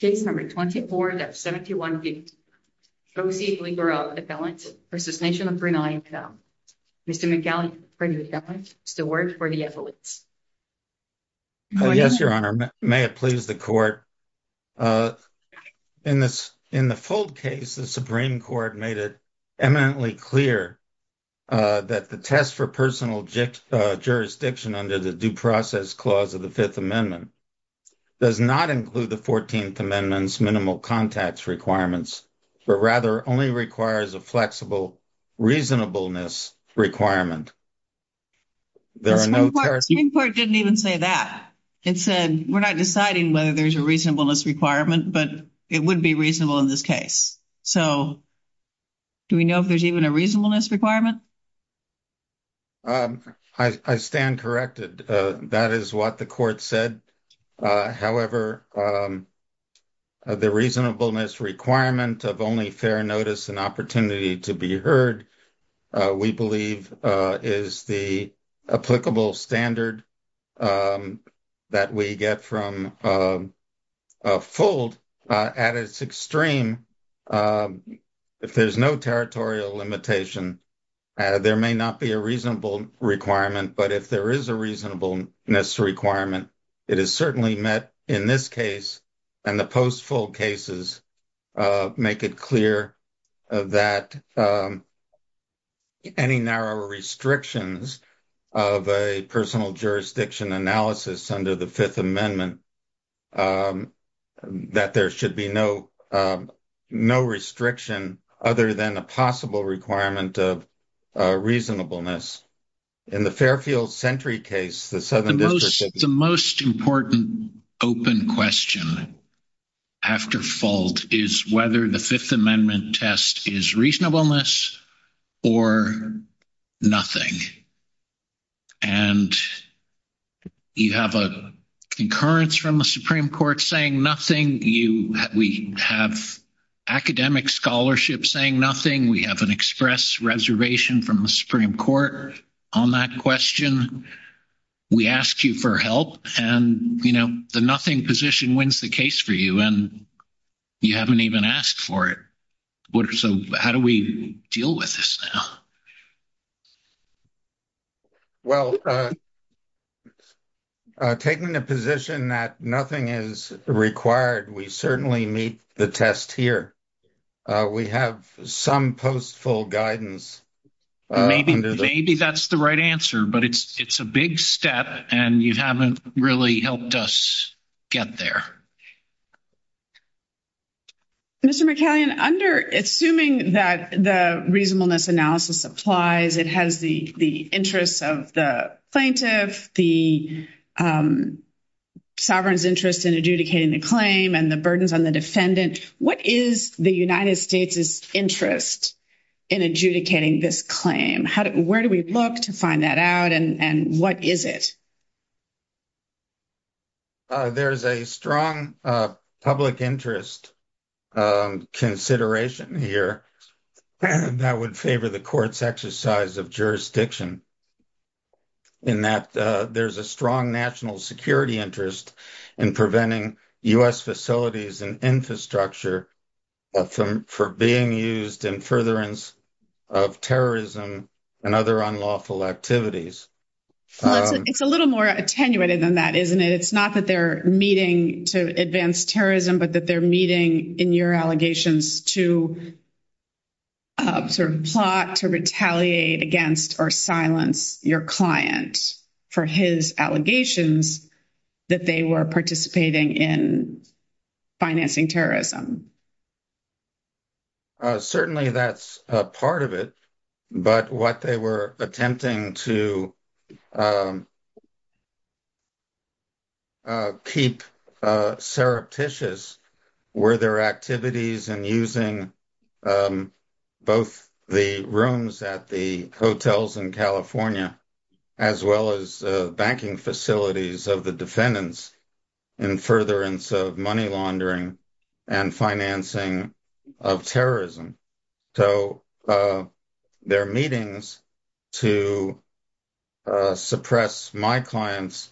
Case No. 24 of 71 v. Goce Gligorov v. Nation of Brunei. Mr. McGillicuddy, is there a word for the evidence? Yes, Your Honor. May it please the Court. In the Fold case, the Supreme Court made it eminently clear that the test for personal jurisdiction under the Due Process Clause of the Fifth Amendment does not include the Fourteenth Amendment's minimal contacts requirements, but rather only requires a flexible reasonableness requirement. The Supreme Court didn't even say that. It said, we're not deciding whether there's a reasonableness requirement, but it would be reasonable in this case. So, do we know if there's even a reasonableness requirement? I stand corrected. That is what the Court said. However, the reasonableness requirement of only fair notice and opportunity to be heard, we believe, is the applicable standard that we get from Fold. At its extreme, if there's no territorial limitation, there may not be a reasonable requirement. But if there is a reasonableness requirement, it is certainly met in this case. And the Post-Fold cases make it clear that any narrow restrictions of a personal jurisdiction analysis under the Fifth Amendment, that there should be no restriction other than a possible requirement of reasonableness. The most important open question after Fold is whether the Fifth Amendment test is reasonableness or nothing. And you have a concurrence from the Supreme Court saying nothing. We have academic scholarship saying nothing. We have an express reservation from the Supreme Court on that question. We asked you for help, and, you know, the nothing position wins the case for you, and you haven't even asked for it. So how do we deal with this now? Well, taking the position that nothing is required, we certainly meet the test here. We have some Post-Fold guidance. Maybe that's the right answer, but it's a big step, and you haven't really helped us get there. Mr. McCallion, assuming that the reasonableness analysis applies, it has the interests of the plaintiff, the sovereign's interest in adjudicating the claim, and the burdens on the defendant, what is the United States' interest in adjudicating this claim? Where do we look to find that out, and what is it? There's a strong public interest consideration here that would favor the court's exercise of jurisdiction in that there's a strong national security interest in preventing U.S. facilities and infrastructure for being used in furtherance of terrorism and other unlawful activities. It's a little more attenuated than that, isn't it? It's not that they're meeting to advance terrorism, but that they're meeting in your allegations to sort of plot to retaliate against or silence your client for his allegations that they were participating in financing terrorism. Certainly, that's part of it, but what they were attempting to keep surreptitious were their activities in using both the rooms at the hotels in California as well as banking facilities of the defendants in furtherance of money laundering and financing of terrorism. So, their meetings to suppress my client's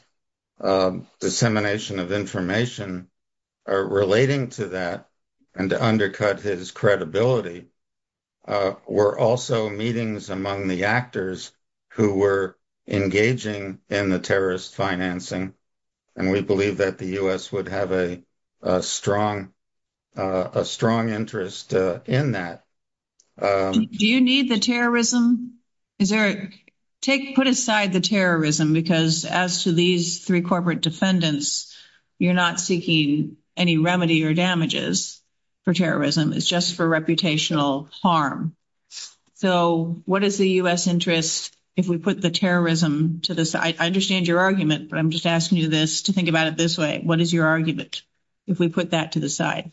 dissemination of information relating to that and to undercut his credibility were also meetings among the actors who were engaging in the terrorist financing. And we believe that the U.S. would have a strong interest in that. Do you need the terrorism? Put aside the terrorism, because as to these three corporate defendants, you're not seeking any remedy or damages for terrorism. It's just for reputational harm. So, what is the U.S. interest if we put the terrorism to the side? I understand your argument, but I'm just asking you this to think about it this way. What is your argument if we put that to the side?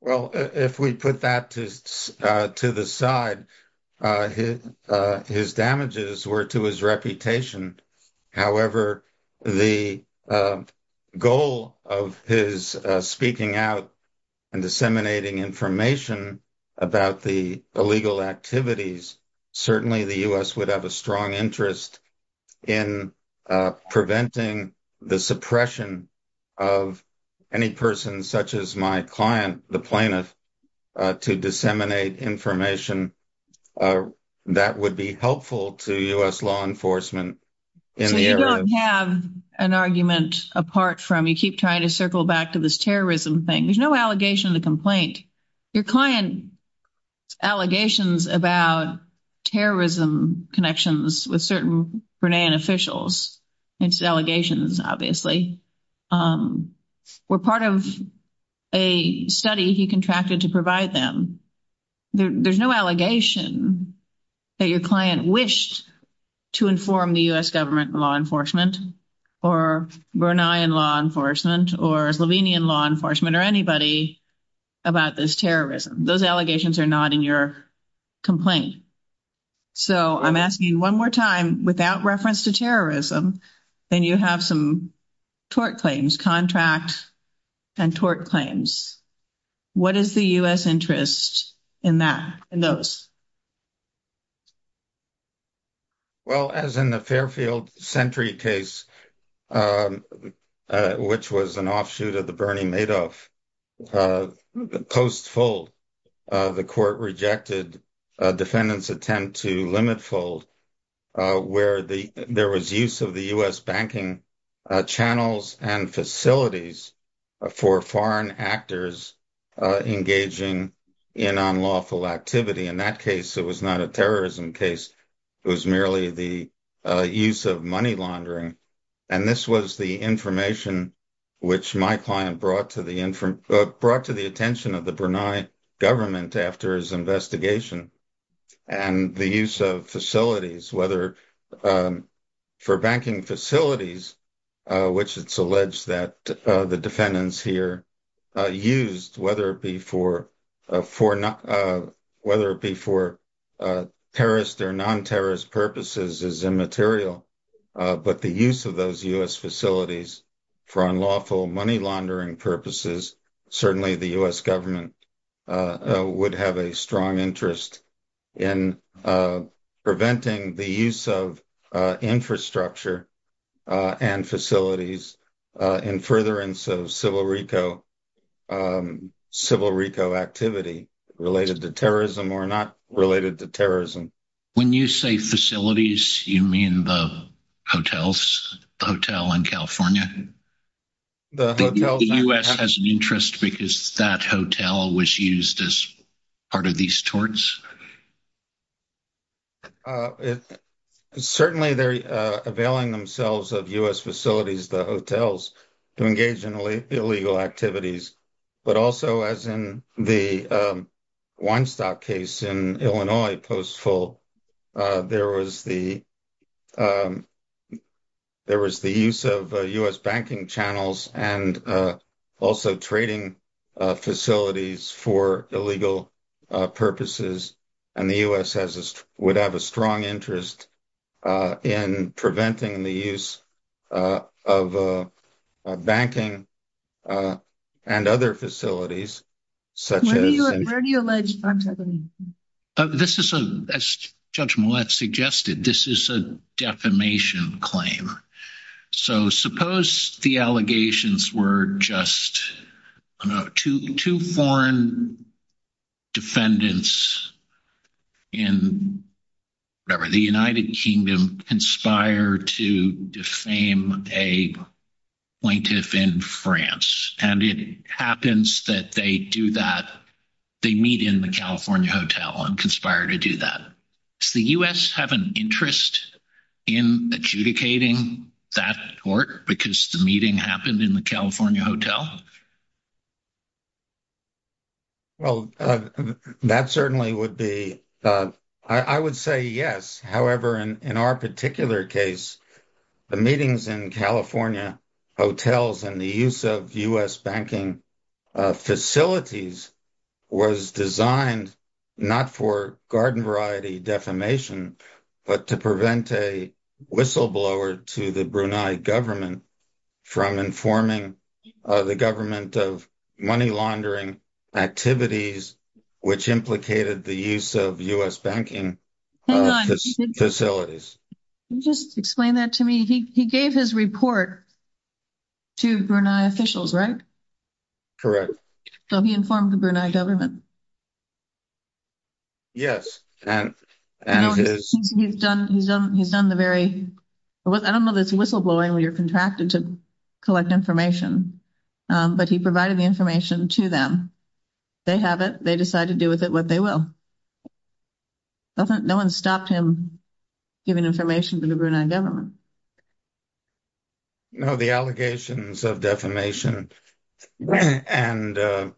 Well, if we put that to the side, his damages were to his reputation. However, the goal of his speaking out and disseminating information about the illegal activities, certainly the U.S. would have a strong interest in preventing the suppression of any person such as my client, the plaintiff, to disseminate information that would be helpful to U.S. law enforcement. So, you don't have an argument apart from, you keep trying to circle back to this terrorism thing. There's no allegation of the complaint. Your client's allegations about terrorism connections with certain Brennan officials, it's allegations, obviously, were part of a study he contracted to provide them. There's no allegation that your client wished to inform the U.S. government and law enforcement or Brennan law enforcement or Slovenian law enforcement or anybody about this terrorism. Those allegations are not in your complaint. So, I'm asking you one more time, without reference to terrorism, then you have some tort claims, contract and tort claims. What is the U.S. interest in that, in those? Well, as in the Fairfield Sentry case, which was an offshoot of the Bernie Madoff post-fold, the court rejected defendants' attempt to limit-fold where there was use of the U.S. banking channels and facilities for foreign actors engaging in unlawful activity. In that case, it was not a terrorism case. It was merely the use of money laundering. And this was the information which my client brought to the attention of the Brunei government after his investigation. And the use of facilities, whether for banking facilities, which it's alleged that the defendants here used, whether it be for terrorist or non-terrorist purposes, is immaterial. But the use of those U.S. facilities for unlawful money laundering purposes, certainly the U.S. government would have a strong interest in preventing the use of infrastructure and facilities in furtherance of civil RICO activity related to terrorism or not related to terrorism. When you say facilities, you mean the hotels, the hotel in California? The hotels. The U.S. has an interest because that hotel was used as part of these torts? Certainly, they're availing themselves of U.S. facilities, the hotels, to engage in illegal activities. But also, as in the Weinstock case in Illinois, Postville, there was the use of U.S. banking channels and also trading facilities for illegal purposes. And the U.S. would have a strong interest in preventing the use of banking and other facilities such as. Where do you allege? This is, as Judge Millett suggested, this is a defamation claim. So, suppose the allegations were just two foreign defendants in the United Kingdom conspire to defame a plaintiff in France. And it happens that they do that. They meet in the California hotel and conspire to do that. Does the U.S. have an interest in adjudicating that tort because the meeting happened in the California hotel? Well, that certainly would be. I would say yes. However, in our particular case, the meetings in California hotels and the use of U.S. banking facilities was designed not for garden variety defamation, but to prevent a whistleblower to the Brunei government from informing the government of money laundering activities, which implicated the use of U.S. banking facilities. Just explain that to me. He gave his report to Brunei officials, right? Correct. So, he informed the Brunei government. Yes. He's done the very, I don't know if it's whistleblowing when you're contracted to collect information, but he provided the information to them. They have it. They decide to do with it what they will. No one stopped him giving information to the Brunei government. No, the allegations of defamation and the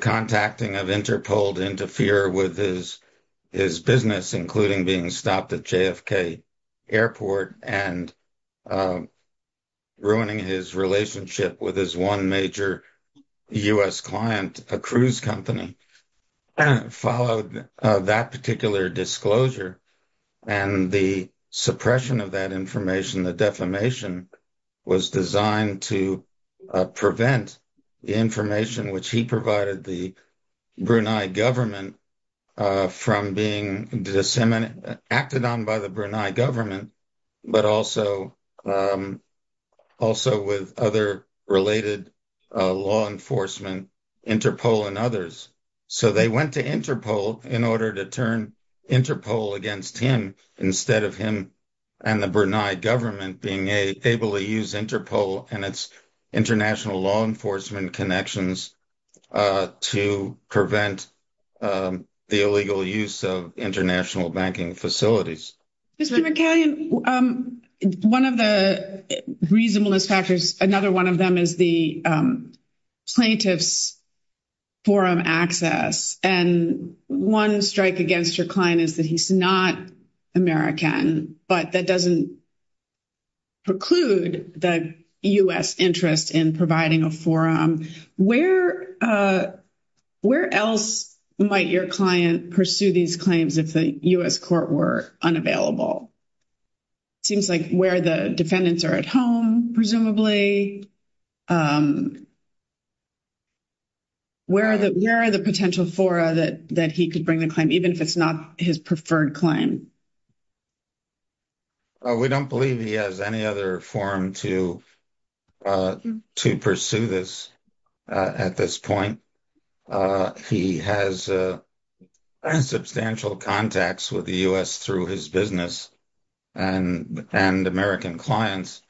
contacting of Interpol to interfere with his business, including being stopped at JFK Airport and ruining his relationship with his one major U.S. client, a cruise company, followed that particular disclosure. And the suppression of that information, the defamation, was designed to prevent the information which he provided the Brunei government from being acted on by the Brunei government, but also with other related law enforcement, Interpol and others. So, they went to Interpol in order to turn Interpol against him instead of him and the Brunei government being able to use Interpol and its international law enforcement connections to prevent the illegal use of international banking facilities. Mr. McCallion, one of the reasonableness factors, another one of them is the plaintiff's forum access. And one strike against your client is that he's not American, but that doesn't preclude the U.S. interest in providing a forum. Where else might your client pursue these claims if the U.S. court were unavailable? It seems like where the defendants are at home, presumably. Where are the potential fora that he could bring the claim, even if it's not his preferred claim? We don't believe he has any other forum to pursue this at this point. He has substantial contacts with the U.S. through his business and American clients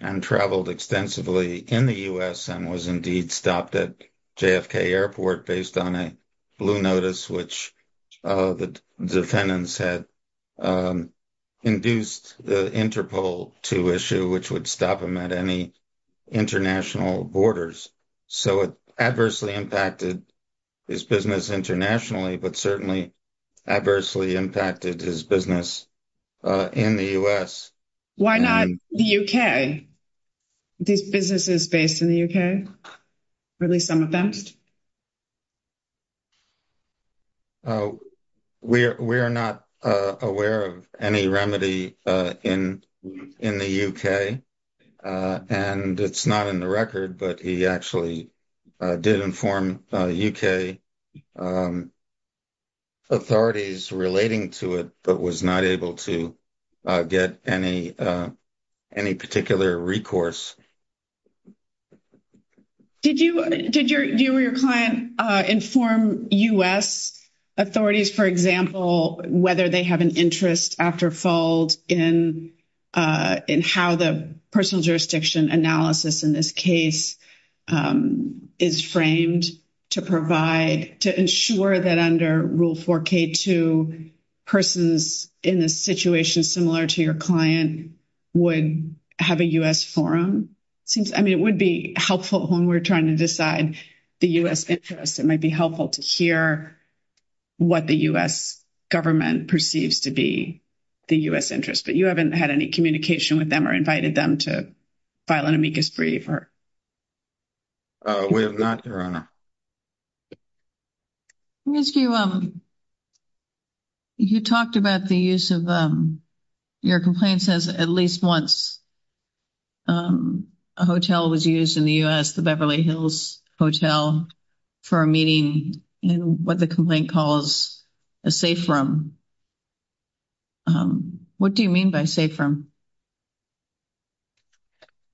and traveled extensively in the U.S. and was indeed stopped at JFK Airport based on a blue notice, which the defendants had induced the Interpol to issue, which would stop him at any international borders. So it adversely impacted his business internationally, but certainly adversely impacted his business in the U.S. Why not the U.K.? These businesses based in the U.K.? We are not aware of any remedy in the U.K., and it's not in the record, but he actually did inform U.K. authorities relating to it, but was not able to get any particular recourse. Did you or your client inform U.S. authorities, for example, whether they have an interest after fault in how the personal jurisdiction analysis in this case is framed to provide, to ensure that under Rule 4K2, persons in a situation similar to your client would have a U.S. forum? I mean, it would be helpful when we're trying to decide the U.S. interest. It might be helpful to hear what the U.S. government perceives to be the U.S. interest, but you haven't had any communication with them or invited them to file an amicus brief? We have not, Your Honor. You talked about the use of, your complaint says at least once a hotel was used in the U.S., the Beverly Hills Hotel, for a meeting in what the complaint calls a safe room. What do you mean by safe room?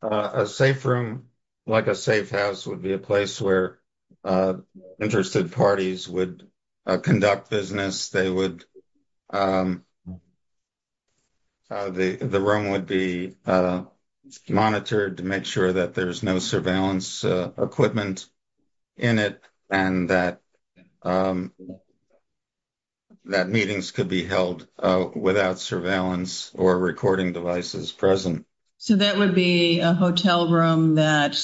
A safe room, like a safe house, would be a place where interested parties would conduct business. They would, the room would be monitored to make sure that there's no surveillance equipment in it and that meetings could be held without surveillance or recording devices present. So that would be a hotel room that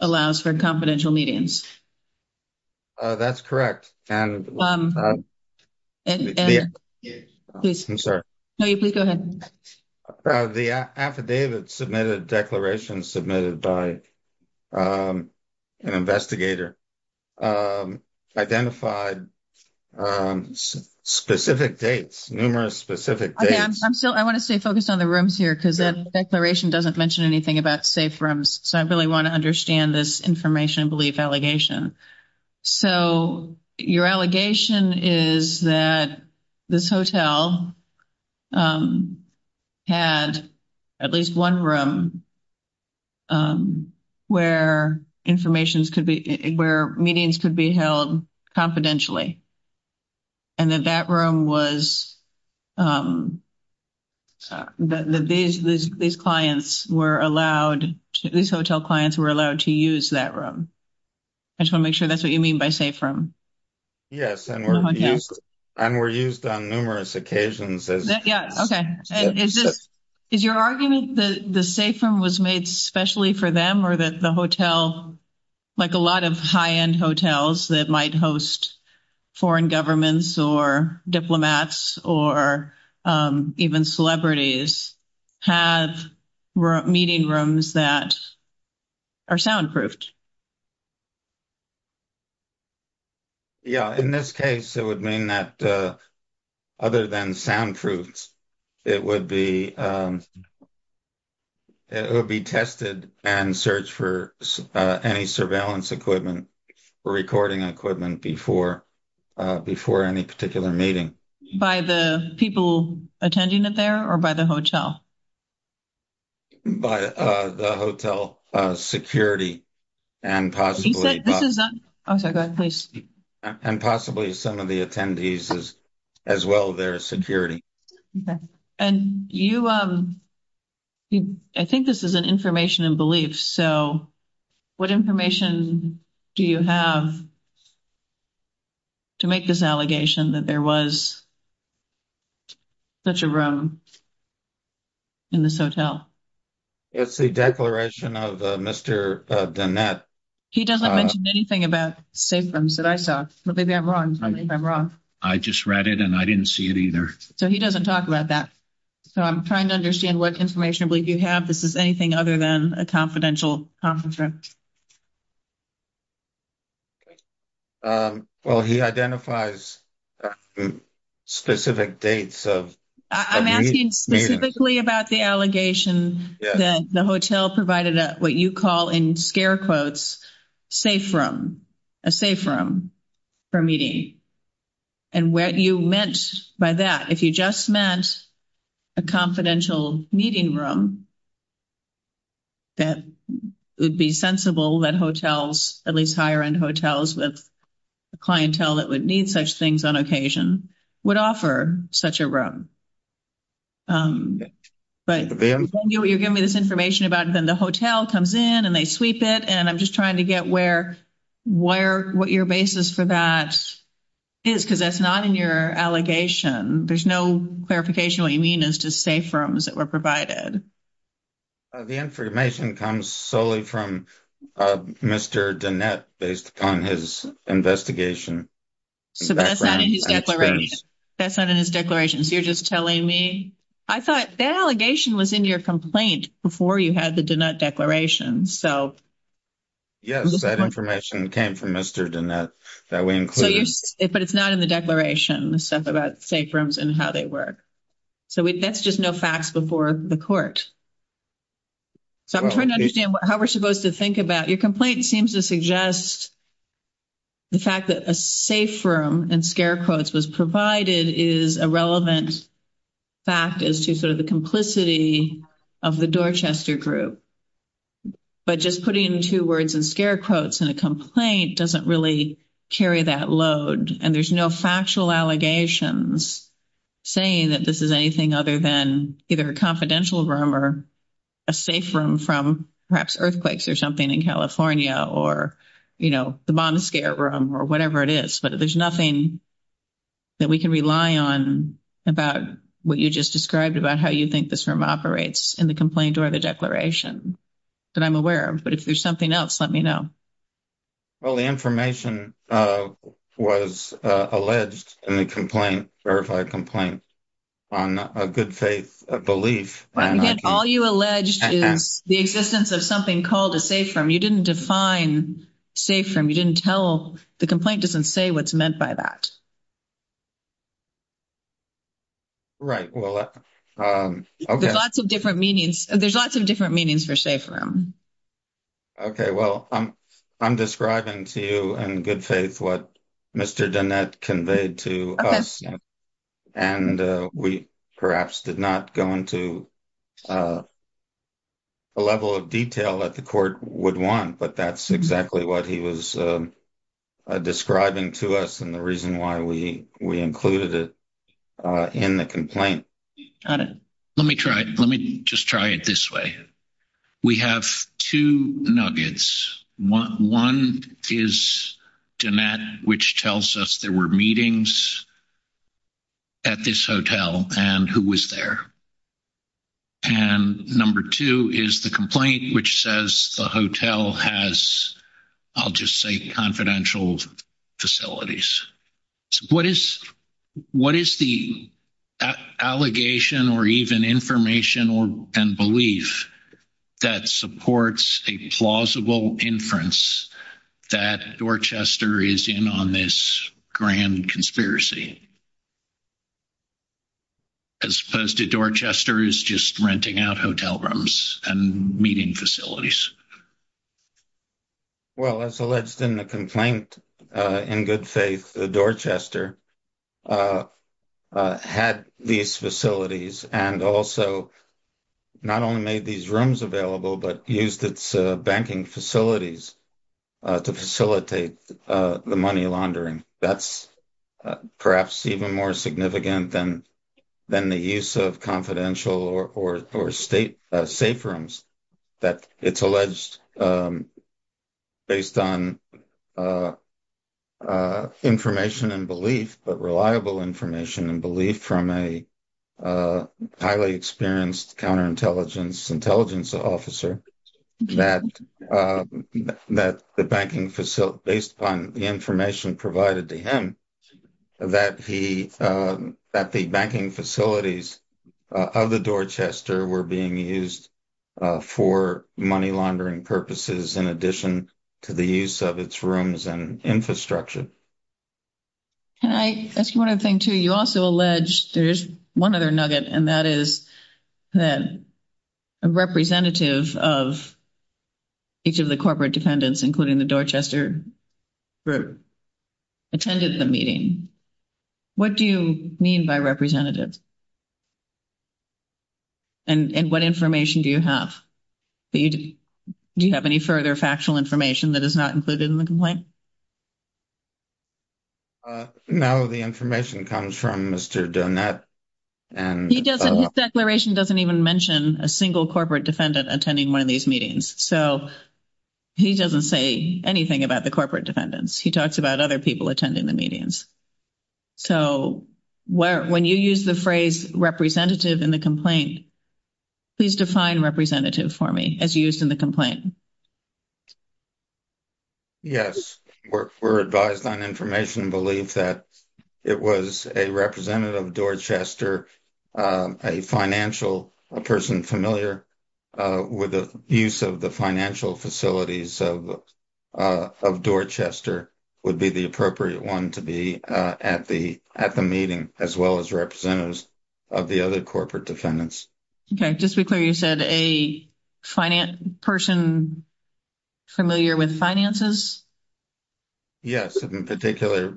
allows for confidential meetings? That's correct. I'm sorry. No, please go ahead. The affidavit submitted, declaration submitted by an investigator, identified specific dates, numerous specific dates. I want to stay focused on the rooms here because that declaration doesn't mention anything about safe rooms. So I really want to understand this information belief allegation. So your allegation is that this hotel had at least one room where information could be, where meetings could be held confidentially. And that that room was, these clients were allowed, these hotel clients were allowed to use that room. I just want to make sure that's what you mean by safe room. Yes, and were used on numerous occasions. Yeah, okay. Is your argument that the safe room was made specially for them or that the hotel, like a lot of high-end hotels that might host foreign governments or diplomats or even celebrities, have meeting rooms that are soundproofed? Yeah, in this case, it would mean that other than soundproofs, it would be, it would be tested and searched for any surveillance equipment, recording equipment before, before any particular meeting. By the people attending it there or by the hotel? By the hotel security and possibly some of the attendees as well, their security. Okay. And you, I think this is an information and belief. So what information do you have to make this allegation that there was such a room in this hotel? It's the declaration of Mr. Danette. He doesn't mention anything about safe rooms that I saw. Maybe I'm wrong. Maybe I'm wrong. I just read it and I didn't see it either. So he doesn't talk about that. So I'm trying to understand what information you have. This is anything other than a confidential conference room. Well, he identifies specific dates of meetings. He's speaking specifically about the allegation that the hotel provided what you call in scare quotes, safe room, a safe room for meeting. And what you meant by that, if you just meant a confidential meeting room, That would be sensible that hotels, at least higher end hotels with the clientele that would need such things on occasion would offer such a room. But you're giving me this information about then the hotel comes in and they sweep it and I'm just trying to get where, where, what your basis for that. Is because that's not in your allegation. There's no clarification. What you mean is to say firms that were provided. The information comes solely from Mr. based on his investigation. So, that's not in his declaration. So you're just telling me, I thought that allegation was in your complaint before you had the declaration. So. Yes, that information came from Mr. that we include, but it's not in the declaration stuff about safe rooms and how they work. So, that's just no facts before the court. So, I'm trying to understand how we're supposed to think about your complaint seems to suggest. The fact that a safe room and scare quotes was provided is a relevant. Fact is to sort of the complicity of the Dorchester group. But just putting 2 words and scare quotes and a complaint doesn't really carry that load and there's no factual allegations. Saying that this is anything other than either a confidential room or. A safe room from perhaps earthquakes or something in California, or, you know, the bomb scare room or whatever it is, but there's nothing. That we can rely on about what you just described about how you think this room operates in the complaint or the declaration. That I'm aware of, but if there's something else, let me know. Well, the information was alleged and the complaint verified complaint. On a good faith belief, all you alleged is the existence of something called a safe from you didn't define safe from you didn't tell the complaint doesn't say what's meant by that. Right well, there's lots of different meanings. There's lots of different meanings for safe room. Okay, well, I'm, I'm describing to you and good faith what. Mr. done that conveyed to us. And we perhaps did not go into. A level of detail that the court would want, but that's exactly what he was. Describing to us and the reason why we, we included it. In the complaint, let me try it. Let me just try it this way. We have 2 nuggets. 1 is. Which tells us there were meetings at this hotel and who was there. And number 2 is the complaint, which says the hotel has. I'll just say confidential facilities. What is what is the allegation or even information or and belief. That supports a plausible inference that Dorchester is in on this grand conspiracy. As opposed to Dorchester is just renting out hotel rooms and meeting facilities. Well, as alleged in the complaint in good faith, the Dorchester. Had these facilities and also. Not only made these rooms available, but used its banking facilities. To facilitate the money laundering that's. Perhaps even more significant than. Then the use of confidential or, or, or state safe rooms. That it's alleged. Based on. Information and belief, but reliable information and belief from a. Highly experienced counterintelligence intelligence officer. That that the banking facility based upon the information provided to him. That he that the banking facilities of the Dorchester were being used. For money laundering purposes, in addition to the use of its rooms and infrastructure. Can I ask you 1 other thing to you also alleged there's 1 other nugget and that is. That representative of. Each of the corporate defendants, including the Dorchester. Group attended the meeting. What do you mean by representatives? And what information do you have? Do you have any further factual information that is not included in the complaint? Now, the information comes from Mr. done that. And he doesn't declaration doesn't even mention a single corporate defendant attending 1 of these meetings. So. He doesn't say anything about the corporate defendants. He talks about other people attending the meetings. So, when you use the phrase representative in the complaint. Please define representative for me as used in the complaint. Yes, we're, we're advised on information and belief that it was a representative Dorchester. A financial a person familiar with the use of the financial facilities of. Of Dorchester would be the appropriate 1 to be at the at the meeting as well as representatives. Of the other corporate defendants. Okay. Just be clear. You said a. Finance person familiar with finances. Yes, in particular.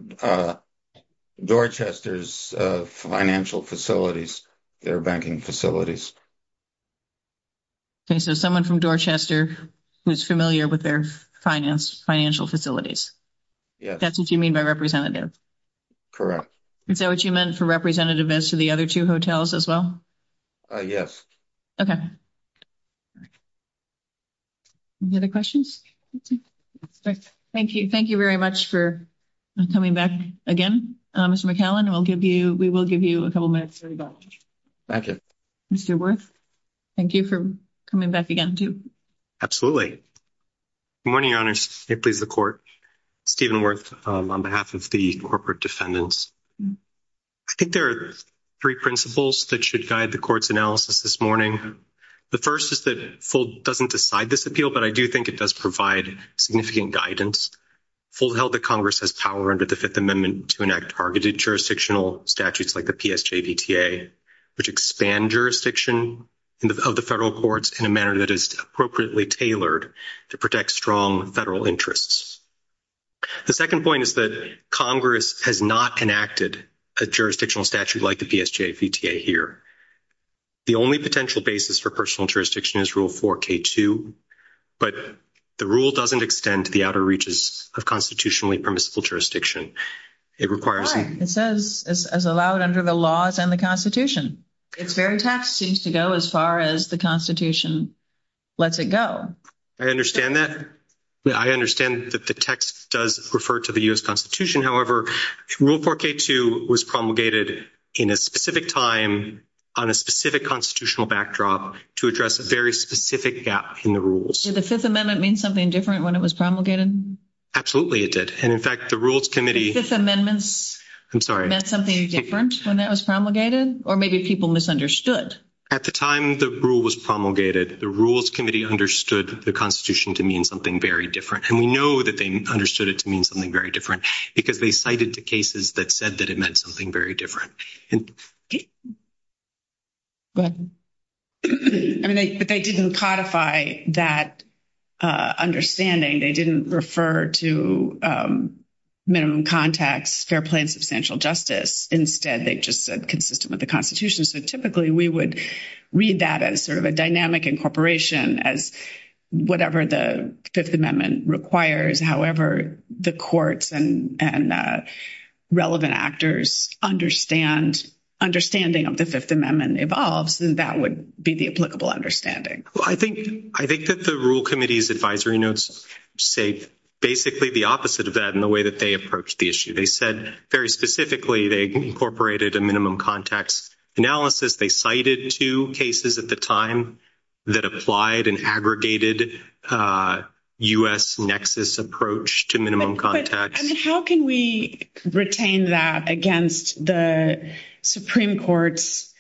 Dorchester's financial facilities. Their banking facilities. Okay. So someone from Dorchester. Who's familiar with their finance financial facilities. Yeah, that's what you mean by representative. Correct. Is that what you meant for representative as to the other 2 hotels as well? Yes. Okay. Any other questions? Thank you. Thank you very much for. Coming back again, Mr. McAllen, and we'll give you, we will give you a couple minutes. Thank you. Mr. worth. Thank you for coming back again to. Absolutely morning honors please the court. Stephen worth on behalf of the corporate defendants. I think there are 3 principles that should guide the court's analysis this morning. The 1st is that full doesn't decide this appeal, but I do think it does provide significant guidance. Full held the Congress has power under the 5th amendment to enact targeted jurisdictional statutes, like the, which expand jurisdiction. Of the federal courts in a manner that is appropriately tailored to protect strong federal interests. The 2nd point is that Congress has not enacted a jurisdictional statute, like the here. The only potential basis for personal jurisdiction is rule for K2. But the rule doesn't extend to the outer reaches of constitutionally permissible jurisdiction. It requires it says as allowed under the laws and the Constitution. It's very tax seems to go as far as the Constitution. Let's it go. I understand that. I understand that the text does refer to the US Constitution. However, rule for K2 was promulgated in a specific time on a specific constitutional backdrop to address a very specific gap in the rules. The 5th amendment means something different when it was promulgated. Absolutely it did. And in fact, the rules committee amendments, I'm sorry, that's something different when that was promulgated, or maybe people misunderstood at the time. The rule was promulgated. The rules committee understood the Constitution to mean something very different. And we know that they understood it to mean something very different because they cited the cases that said that it meant something very different. But they didn't codify that understanding. They didn't refer to minimum contacts, fair play, and substantial justice. Instead, they just said consistent with the Constitution. So typically, we would read that as sort of a dynamic incorporation as whatever the 5th amendment requires. However, the courts and relevant actors understand, understanding of the 5th amendment evolves, and that would be the applicable understanding. I think that the rule committee's advisory notes say basically the opposite of that in the way that they approach the issue. They said very specifically they incorporated a minimum contacts analysis. They cited two cases at the time that applied an aggregated U.S. nexus approach to minimum contacts. How can we retain that against the Supreme Court's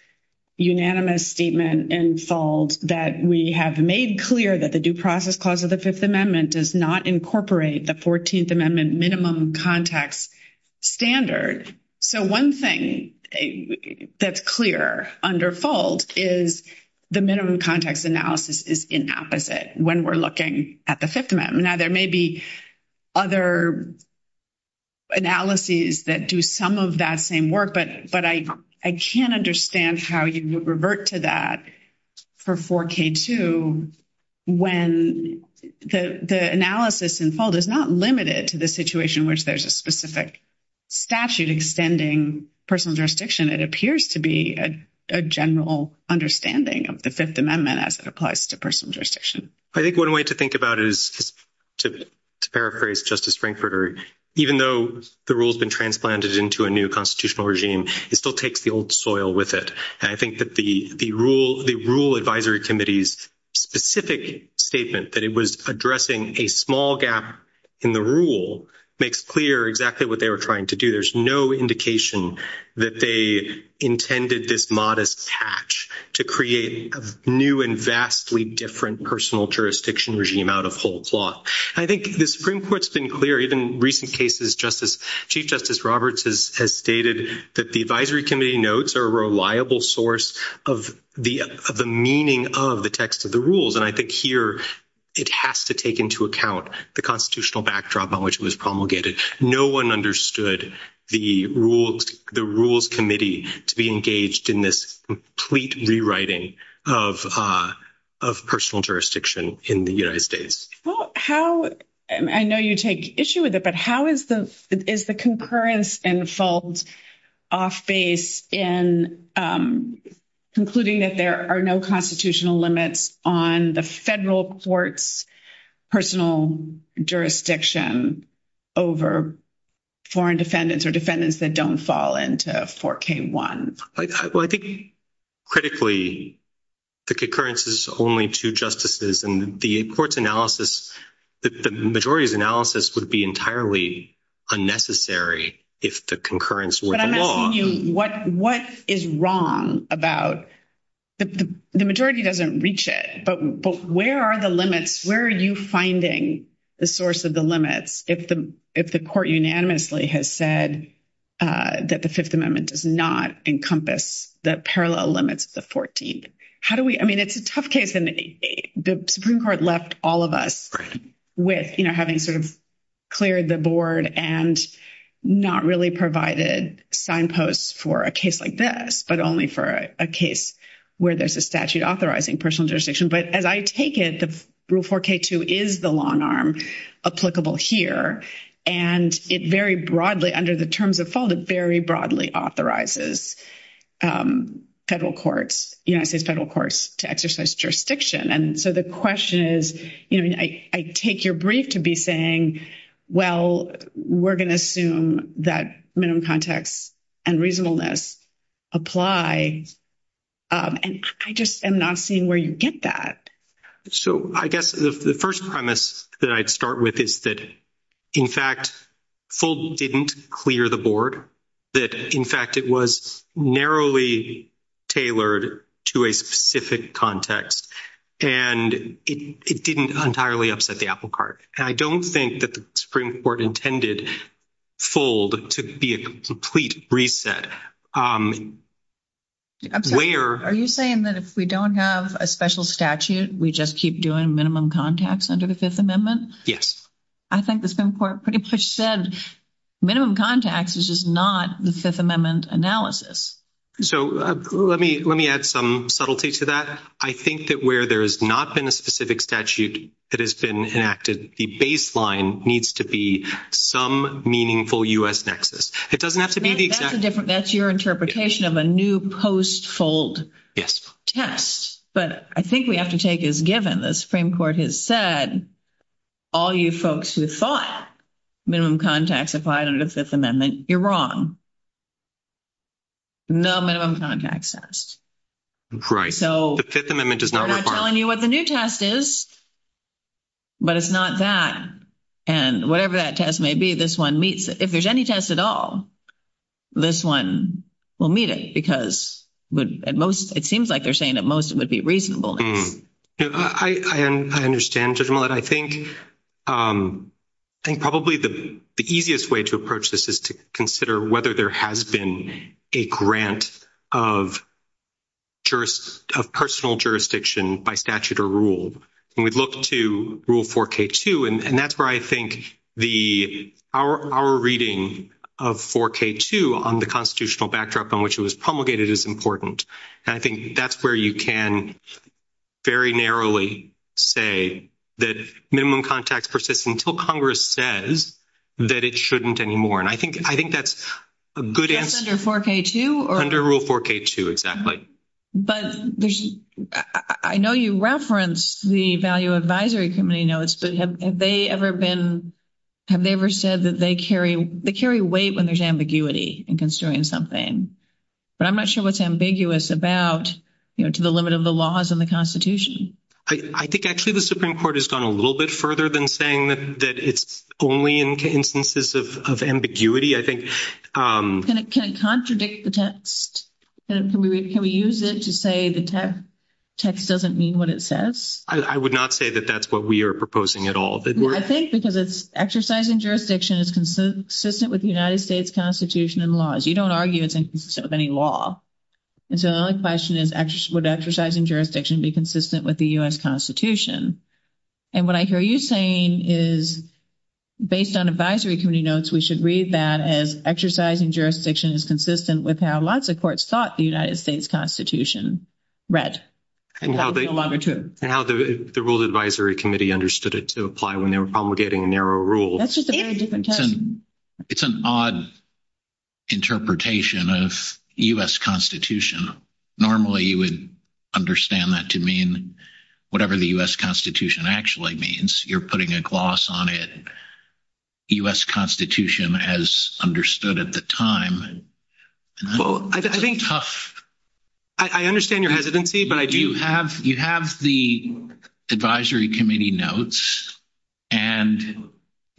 unanimous statement in fault that we have made clear that the due process clause of the 5th amendment does not incorporate the 14th amendment minimum contacts standard? So one thing that's clear under fault is the minimum contacts analysis is inapposite when we're looking at the 5th amendment. Now, there may be other analyses that do some of that same work, but I can't understand how you would revert to that for 4K2 when the analysis in fault is not limited to the situation in which there's a specific statute extending personal jurisdiction. It appears to be a general understanding of the 5th amendment as it applies to personal jurisdiction. I think one way to think about it is to paraphrase Justice Frankfurter, even though the rule's been transplanted into a new constitutional regime, it still takes the old soil with it. And I think that the rule advisory committee's specific statement that it was addressing a small gap in the rule makes clear exactly what they were trying to do. There's no indication that they intended this modest patch to create a new and vastly different personal jurisdiction regime out of whole cloth. I think the Supreme Court's been clear, even in recent cases, Chief Justice Roberts has stated that the advisory committee notes are a reliable source of the meaning of the text of the rules. And I think here it has to take into account the constitutional backdrop on which it was promulgated. No one understood the rules committee to be engaged in this complete rewriting of personal jurisdiction in the United States. I know you take issue with it, but how is the concurrence and fault off base in concluding that there are no constitutional limits on the federal court's personal jurisdiction over foreign defendants or defendants that don't fall into 4K1? Well, I think critically, the concurrence is only two justices and the court's analysis, the majority's analysis would be entirely unnecessary if the concurrence were the law. What is wrong about the majority doesn't reach it, but where are the limits? Where are you finding the source of the limits? If the if the court unanimously has said that the 5th Amendment does not encompass the parallel limits of the 14th, how do we I mean, it's a tough case. And the Supreme Court left all of us with having sort of cleared the board and not really provided signposts for a case like this, but only for a case where there's a statute authorizing personal jurisdiction. But as I take it, the rule 4K2 is the long arm applicable here, and it very broadly under the terms of fault, it very broadly authorizes federal courts, United States federal courts to exercise jurisdiction. And so the question is, I take your brief to be saying, well, we're going to assume that minimum context and reasonableness apply. And I just am not seeing where you get that. So, I guess the 1st premise that I'd start with is that, in fact, full didn't clear the board that, in fact, it was narrowly tailored to a specific context and it didn't entirely upset the apple cart. And I don't think that the Supreme Court intended fold to be a complete reset. Where are you saying that if we don't have a special statute, we just keep doing minimum contacts under the 5th Amendment? Yes, I think the Supreme Court pretty much said minimum contacts is just not the 5th Amendment analysis. So, let me add some subtlety to that. I think that where there has not been a specific statute that has been enacted, the baseline needs to be some meaningful U.S. nexus. It doesn't have to be the exact. That's your interpretation of a new post-fold test. But I think we have to take as given the Supreme Court has said, all you folks who thought minimum contacts applied under the 5th Amendment, you're wrong. No minimum contacts test. Right. So, I'm not telling you what the new test is, but it's not that. And whatever that test may be, this one meets it. If there's any test at all, this one will meet it because it seems like they're saying at most it would be reasonableness. I understand, Judge Millett. I think probably the easiest way to approach this is to consider whether there has been a grant of personal jurisdiction by statute or rule. And we'd look to Rule 4K2, and that's where I think our reading of 4K2 on the constitutional backdrop on which it was promulgated is important. And I think that's where you can very narrowly say that minimum contacts persist until Congress says that it shouldn't anymore. And I think that's a good answer. Just under 4K2? Under Rule 4K2, exactly. But I know you referenced the Value Advisory Committee notes, but have they ever been – have they ever said that they carry weight when there's ambiguity in considering something? But I'm not sure what's ambiguous about, you know, to the limit of the laws and the Constitution. I think actually the Supreme Court has gone a little bit further than saying that it's only in instances of ambiguity, I think. Can it contradict the text? Can we use it to say the text doesn't mean what it says? I would not say that that's what we are proposing at all. I think because it's exercising jurisdiction, it's consistent with the United States Constitution and laws. You don't argue it's inconsistent with any law. And so the only question is would exercising jurisdiction be consistent with the U.S. Constitution? And what I hear you saying is based on Advisory Committee notes, we should read that as exercising jurisdiction is consistent with how lots of courts thought the United States Constitution read. And how the Rules Advisory Committee understood it to apply when they were promulgating a narrow rule. It's an odd interpretation of U.S. Constitution. Normally you would understand that to mean whatever the U.S. Constitution actually means. You're putting a gloss on it. U.S. Constitution as understood at the time. Well, I think I understand your hesitancy, but I do. You have the Advisory Committee notes, and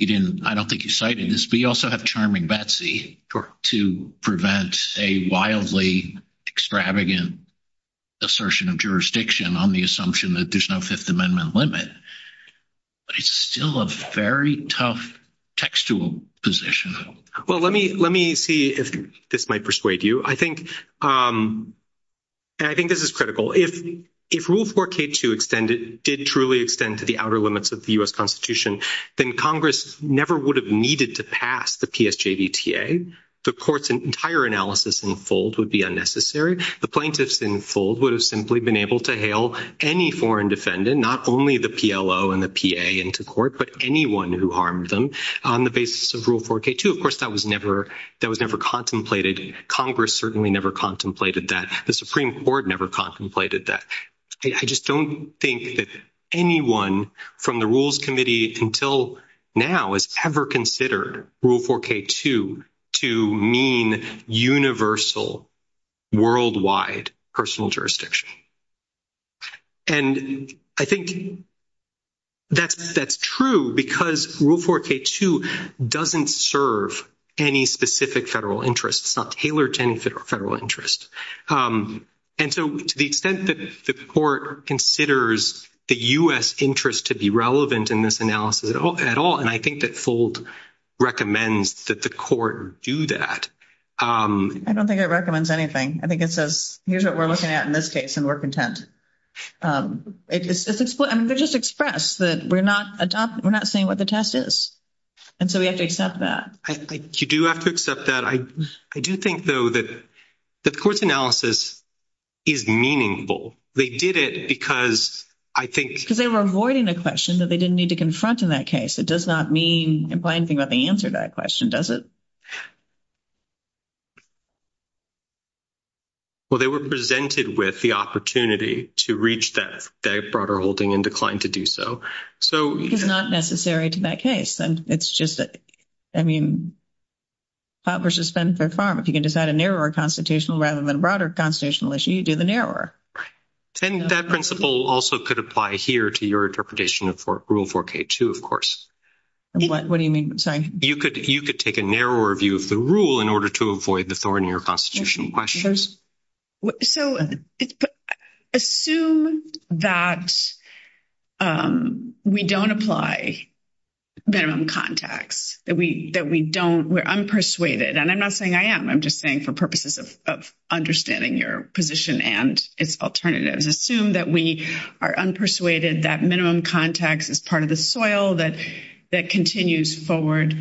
I don't think you cited this, but you also have charming Betsy to prevent a wildly extravagant assertion of jurisdiction on the assumption that there's no Fifth Amendment limit. But it's still a very tough textual position. Well, let me see if this might persuade you. I think this is critical. If Rule 4K2 did truly extend to the outer limits of the U.S. Constitution, then Congress never would have needed to pass the PSJVTA. The court's entire analysis in full would be unnecessary. The plaintiffs in full would have simply been able to hail any foreign defendant, not only the PLO and the PA into court, but anyone who harmed them on the basis of Rule 4K2. Of course, that was never contemplated. Congress certainly never contemplated that. The Supreme Court never contemplated that. I just don't think that anyone from the Rules Committee until now has ever considered Rule 4K2 to mean universal worldwide personal jurisdiction. And I think that's true because Rule 4K2 doesn't serve any specific federal interest. It's not tailored to any federal interest. And so to the extent that the court considers the U.S. interest to be relevant in this analysis at all, and I think that Fuld recommends that the court do that. I don't think it recommends anything. I think it says, here's what we're looking at in this case, and we're content. I mean, they just expressed that we're not saying what the test is. And so we have to accept that. You do have to accept that. I do think, though, that the court's analysis is meaningful. They did it because I think — Because they were avoiding a question that they didn't need to confront in that case. It does not mean, imply anything about the answer to that question, does it? Well, they were presented with the opportunity to reach that broader holding and declined to do so. It's not necessary to that case. It's just that, I mean, pot versus spend for farm. If you can decide a narrower constitutional rather than a broader constitutional issue, you do the narrower. And that principle also could apply here to your interpretation of Rule 4K2, of course. What do you mean? You could take a narrower view of the rule in order to avoid the thorn in your constitutional questions. So assume that we don't apply minimum contacts, that we don't — we're unpersuaded. And I'm not saying I am. I'm just saying for purposes of understanding your position and its alternatives. Assume that we are unpersuaded, that minimum contacts is part of the soil, that continues forward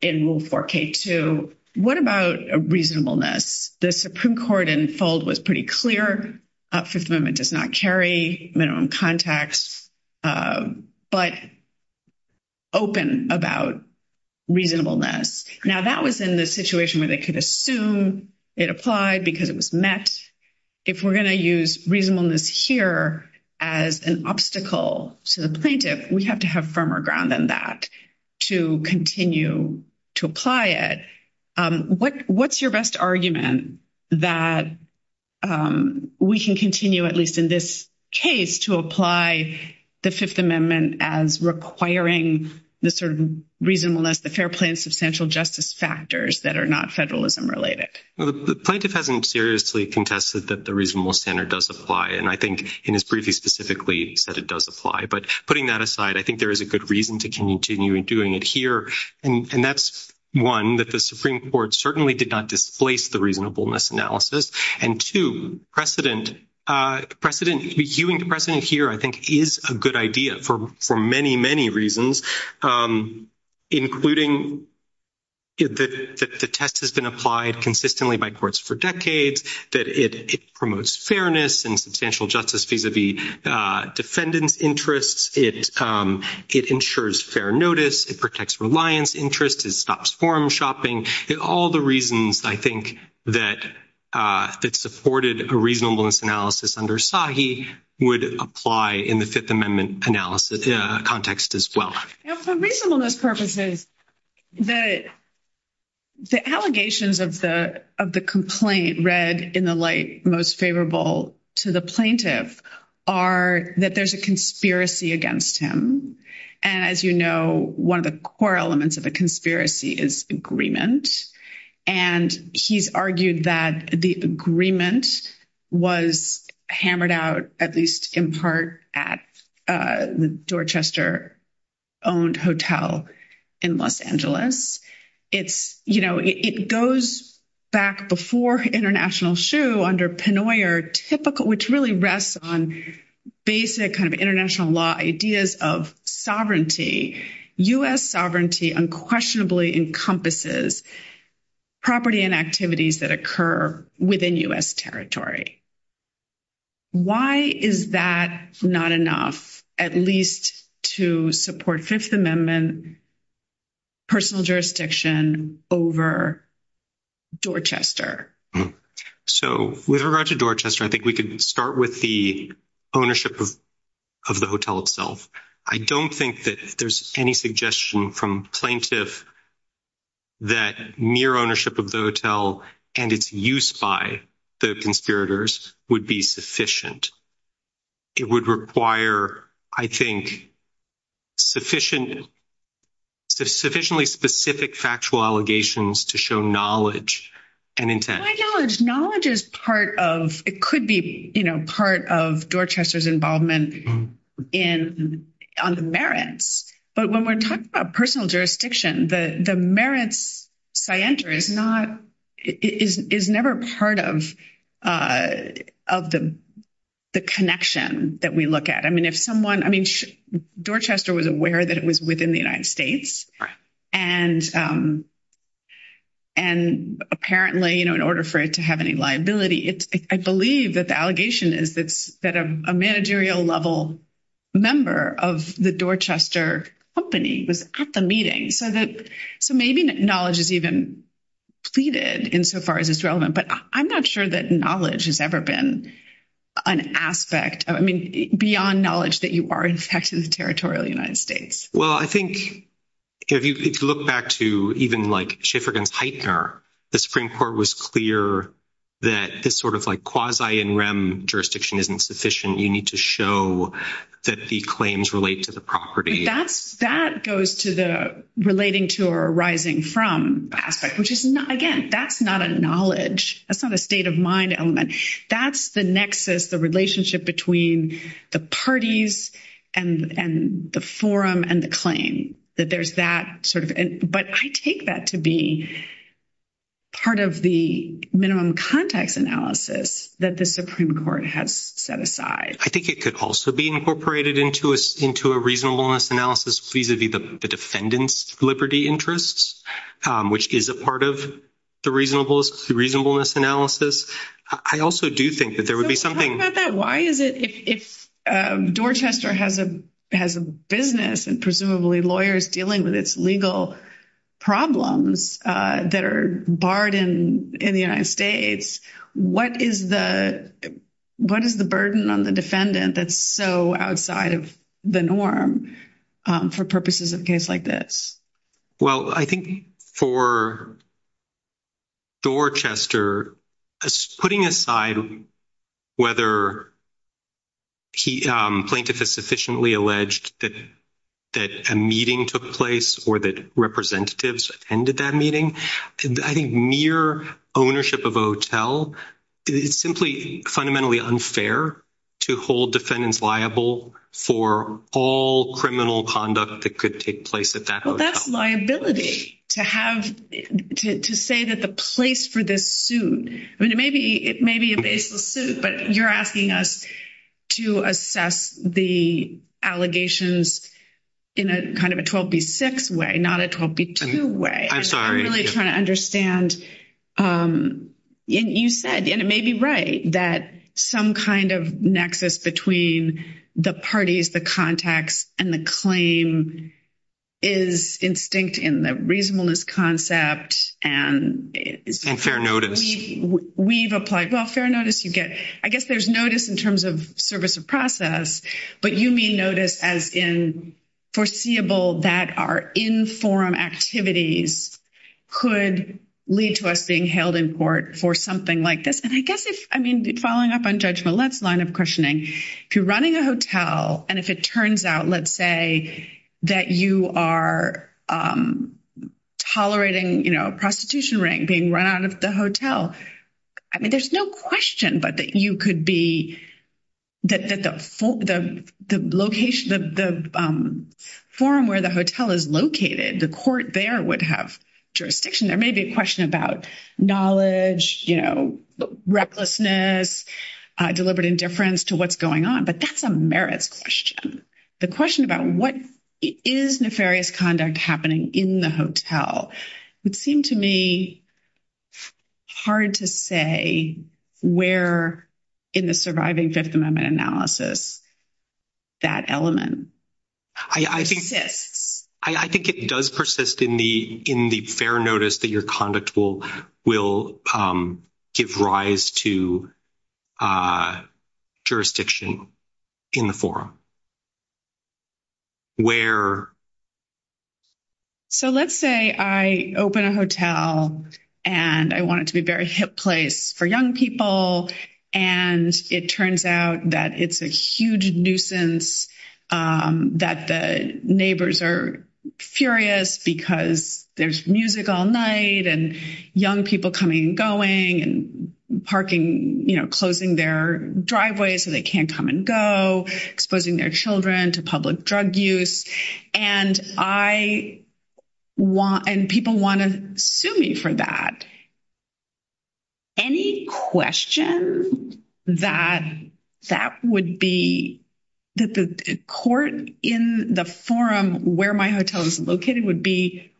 in Rule 4K2. What about reasonableness? The Supreme Court in fold was pretty clear. Fifth Amendment does not carry minimum contacts. But open about reasonableness. Now, that was in the situation where they could assume it applied because it was met. If we're going to use reasonableness here as an obstacle to the plaintiff, we have to have firmer ground than that to continue to apply it. What's your best argument that we can continue, at least in this case, to apply the Fifth Amendment as requiring the sort of reasonableness, the fair play and substantial justice factors that are not federalism-related? The plaintiff hasn't seriously contested that the reasonable standard does apply. And I think in his brief, he specifically said it does apply. But putting that aside, I think there is a good reason to continue doing it here. And that's, one, that the Supreme Court certainly did not displace the reasonableness analysis. And, two, precedent. Precedent. Viewing precedent here, I think, is a good idea for many, many reasons, including that the test has been applied consistently by courts for decades, that it promotes fairness and substantial justice vis-a-vis defendants' interests. It ensures fair notice. It protects reliance interests. It stops forum shopping. All the reasons, I think, that supported a reasonableness analysis under SAGI would apply in the Fifth Amendment analysis context as well. For reasonableness purposes, the allegations of the complaint read in the light most favorable to the plaintiff are that there's a conspiracy against him. And, as you know, one of the core elements of a conspiracy is agreement. And he's argued that the agreement was hammered out, at least in part, at the Dorchester-owned hotel in Los Angeles. It's, you know, it goes back before international shoe under Pennoyer, which really rests on basic kind of international law ideas of sovereignty. U.S. sovereignty unquestionably encompasses property and activities that occur within U.S. territory. Why is that not enough, at least to support Fifth Amendment personal jurisdiction over Dorchester? So, with regard to Dorchester, I think we could start with the ownership of the hotel itself. I don't think that there's any suggestion from plaintiff that mere ownership of the hotel and its use by the conspirators would be sufficient. It would require, I think, sufficiently specific factual allegations to show knowledge and intent. My knowledge, knowledge is part of, it could be, you know, part of Dorchester's involvement on the merits. But when we're talking about personal jurisdiction, the merits scienter is not, is never part of the connection that we look at. I mean, if someone, I mean, Dorchester was aware that it was within the United States. And apparently, you know, in order for it to have any liability, I believe that the allegation is that a managerial level member of the Dorchester company was at the meeting. So maybe knowledge is even pleaded insofar as it's relevant. But I'm not sure that knowledge has ever been an aspect of, I mean, beyond knowledge that you are in fact in the territorial United States. Well, I think if you look back to even like Schiff v. Heitner, the Supreme Court was clear that this sort of like quasi and rem jurisdiction isn't sufficient. You need to show that the claims relate to the property. That goes to the relating to or arising from aspect, which is not, again, that's not a knowledge. That's not a state of mind element. That's the nexus, the relationship between the parties and the forum and the claim that there's that sort of. But I take that to be part of the minimum context analysis that the Supreme Court has set aside. I think it could also be incorporated into us into a reasonableness analysis vis-a-vis the defendant's liberty interests, which is a part of the reasonableness analysis. I also do think that there would be something. Why is it if Dorchester has a has a business and presumably lawyers dealing with its legal problems that are barred in in the United States? What is the what is the burden on the defendant? That's so outside of the norm for purposes of case like this? Well, I think for. Dorchester putting aside. Whether he plaintiff is sufficiently alleged that. That a meeting took place or that representatives attended that meeting, I think near ownership of hotel. It's simply fundamentally unfair to hold defendants liable for all criminal conduct that could take place at that. Well, that's liability to have to say that the place for this suit. I mean, it may be it may be a baseless suit, but you're asking us to assess the allegations. In a kind of a 12 be 6 way, not a 12 way. I'm sorry. I'm really trying to understand. And you said, and it may be right that some kind of nexus between the parties, the contacts and the claim. Is instinct in the reasonableness concept and fair notice we've applied welfare notice you get, I guess there's notice in terms of service of process, but you may notice as in. Foreseeable that are in forum activities. Could lead to us being held in court for something like this and I guess if, I mean, following up on judgment, let's line up questioning if you're running a hotel and if it turns out, let's say. That you are tolerating prostitution ring being run out of the hotel. I mean, there's no question, but that you could be. That the, the, the location of the forum where the hotel is located, the court there would have. Jurisdiction there may be a question about knowledge, you know, recklessness. Deliberate indifference to what's going on, but that's a merits question. The question about what is nefarious conduct happening in the hotel would seem to me. Hard to say where. In the surviving 5th amendment analysis. I think it does persist in the, in the fair notice that your conduct will will give rise to. Jurisdiction in the forum. Where so, let's say I open a hotel and I want it to be very hip place for young people. And it turns out that it's a huge nuisance that the neighbors are furious because there's music all night and young people coming and going and parking, closing their driveway. So they can't come and go exposing their children to public drug use. And I. And people want to sue me for that. Any question that that would be. That the court in the forum where my hotel is located would be.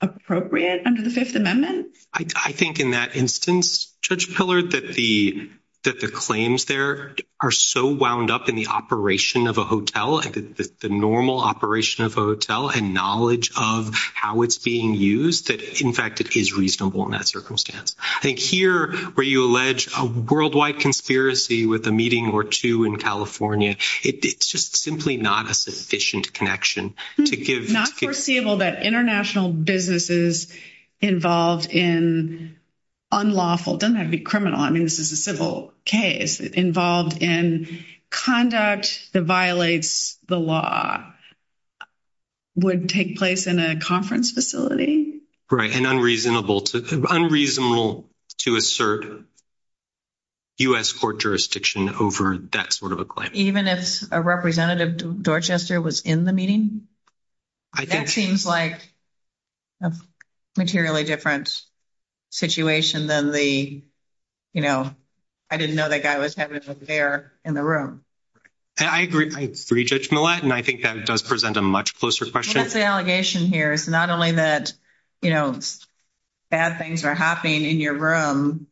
Appropriate under the 5th amendment, I think in that instance, judge pillar that the. That the claims there are so wound up in the operation of a hotel and the normal operation of a hotel and knowledge of how it's being used that, in fact, it is reasonable in that circumstance. I think here where you allege a worldwide conspiracy with a meeting or 2 in California, it's just simply not a sufficient connection to give not foreseeable that international businesses. Involved in unlawful doesn't have to be criminal. I mean, this is a civil case involved in conduct that violates the law. Would take place in a conference facility, right? And unreasonable to unreasonable to assert. U. S. court jurisdiction over that sort of a claim, even if a representative Dorchester was in the meeting. That seems like materially different. Situation than the, you know. I didn't know that guy was having there in the room. I agree. I 3 judgment. And I think that does present a much closer question. The allegation here is not only that. You know, bad things are happening in your room.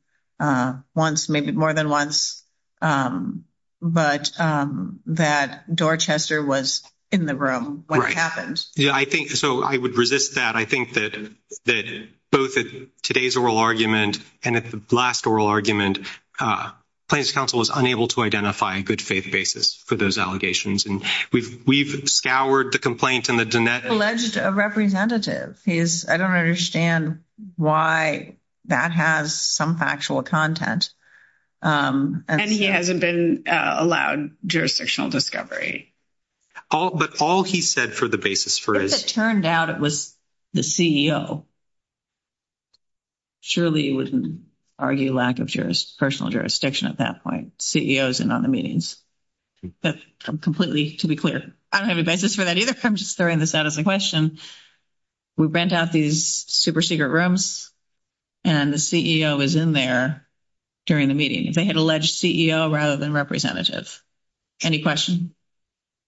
Once, maybe more than once. But that Dorchester was in the room, what happens? Yeah, I think so. I would resist that. I think that that both today's oral argument and at the last oral argument. And he hasn't been allowed jurisdictional discovery. All, but all he said for the basis for his turned out, it was the CEO. Surely, you wouldn't argue lack of jurist. At that point, CEOs and on the meetings. Completely to be clear, I don't have a basis for that either. I'm just throwing this out as a question. We rent out these super secret rooms. And the CEO is in there during the meeting, if they had alleged CEO, rather than representative. Any question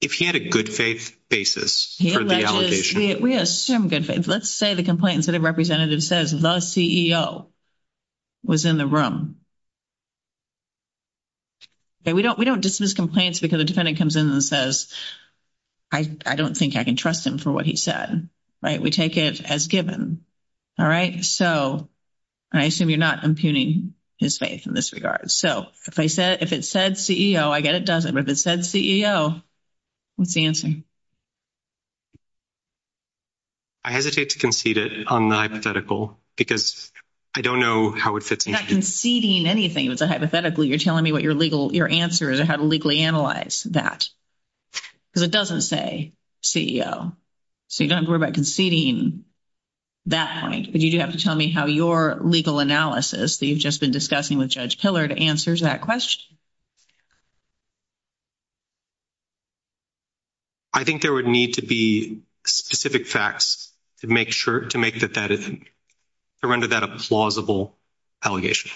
if he had a good faith basis, we assume good faith. Let's say the complaints that a representative says the CEO. Was in the room. We don't we don't dismiss complaints because the defendant comes in and says. I don't think I can trust him for what he said, right? We take it as given. All right, so I assume you're not impugning his faith in this regard. So if I said, if it said CEO, I get it. Doesn't it said CEO. What's the answer? I hesitate to concede it on the hypothetical because. I don't know how it fits in conceding anything. It's a hypothetical. You're telling me what your legal your answer is or how to legally analyze that. Because it doesn't say CEO, so you don't worry about conceding. That point, but you do have to tell me how your legal analysis that you've just been discussing with judge pillar to answers that question. I think there would need to be specific facts to make sure to make that that is. To render that a plausible allegation,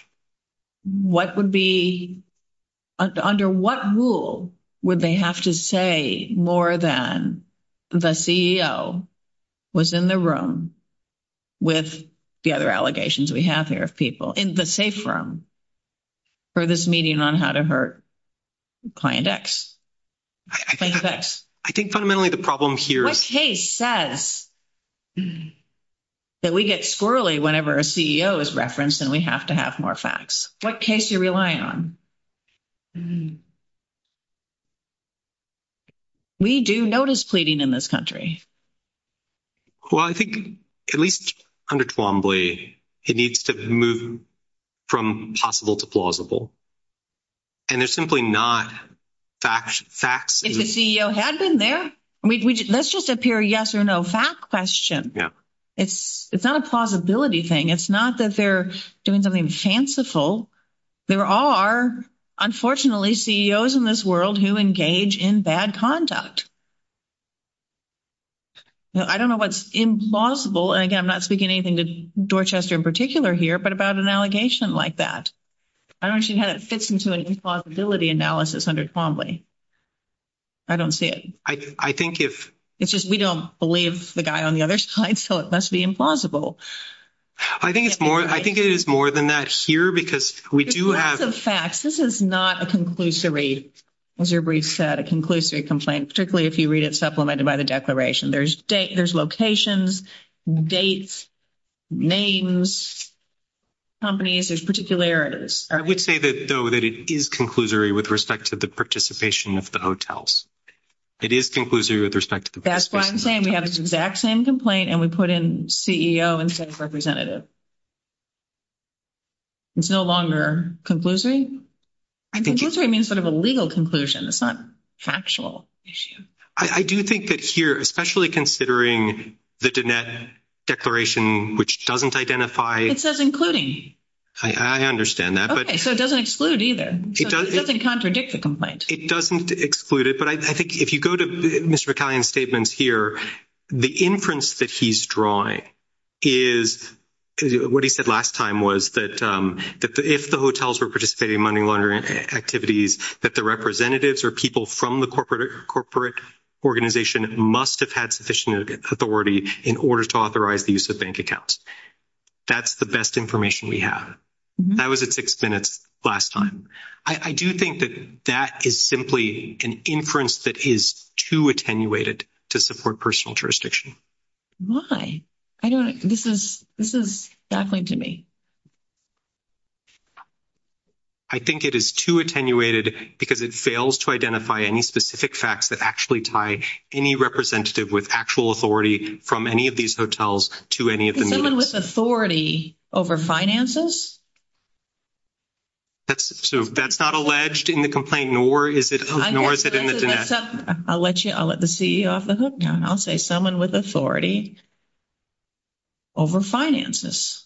what would be. Under what rule would they have to say more than. The CEO was in the room. With the other allegations we have here of people in the safe room. For this meeting on how to hurt client X. I think fundamentally the problem here says. That we get squirrely whenever a CEO is referenced and we have to have more facts. What case you're relying on. We do notice pleading in this country. Well, I think at least under Twombly, it needs to move. From possible to plausible. And they're simply not facts. If the CEO had been there, let's just appear yes or no fact question. It's it's not a plausibility thing. It's not that they're doing something fanciful. There are unfortunately CEOs in this world who engage in bad conduct. I don't know what's implausible and again, I'm not speaking anything to Dorchester in particular here, but about an allegation like that. I don't know how that fits into an impossibility analysis under. I don't see it. I think if it's just we don't believe the guy on the other side, so it must be implausible. I think it's more I think it is more than that here, because we do have the facts. This is not a conclusory. As your brief said, a conclusory complaint, particularly if you read it supplemented by the declaration. There's date, there's locations, dates, names, companies, there's particularities. I would say that, though, that it is conclusory with respect to the participation of the hotels. It is conclusory with respect to that's why I'm saying we have this exact same complaint and we put in CEO instead of representative. It's no longer conclusory. I think it means sort of a legal conclusion. It's not factual issue. I do think that here, especially considering the declaration, which doesn't identify, it says, including. I understand that, but it doesn't exclude either. It doesn't contradict the complaint. It doesn't exclude it, but I think if you go to Mr. McCallion statements here, the inference that he's drawing. Is what he said last time was that if the hotels were participating in money laundering activities, that the representatives or people from the corporate corporate organization must have had sufficient authority in order to authorize the use of bank accounts. That's the best information we have. That was at 6 minutes last time. I do think that that is simply an inference that is too attenuated to support personal jurisdiction. Why? I don't know. This is this is definitely to me. I think it is too attenuated because it fails to identify any specific facts that actually tie any representative with actual authority from any of these hotels to any of them with authority over finances. That's so that's not alleged in the complaint, nor is it, nor is it in the. I'll let you I'll let the CEO off the hook. Now, I'll say someone with authority. Over finances,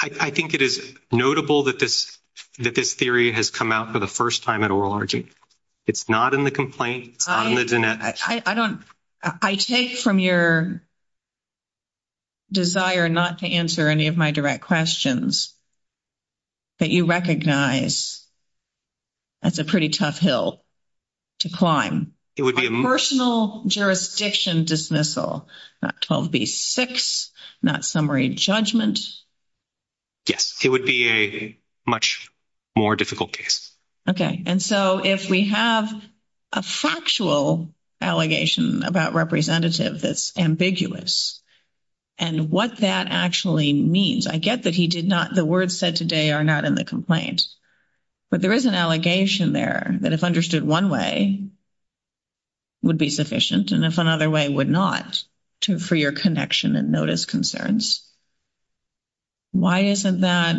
I think it is notable that this that this theory has come out for the 1st time at oral. It's not in the complaint. I don't I take from your. Desire not to answer any of my direct questions. That you recognize that's a pretty tough hill. To climb, it would be a personal jurisdiction dismissal, not 12 be 6, not summary judgment. Yes, it would be a much more difficult case. Okay. And so if we have. A factual allegation about representative, that's ambiguous. And what that actually means, I get that he did not the words said today are not in the complaint. But there is an allegation there that if understood 1 way. Would be sufficient and if another way would not to for your connection and notice concerns. Why isn't that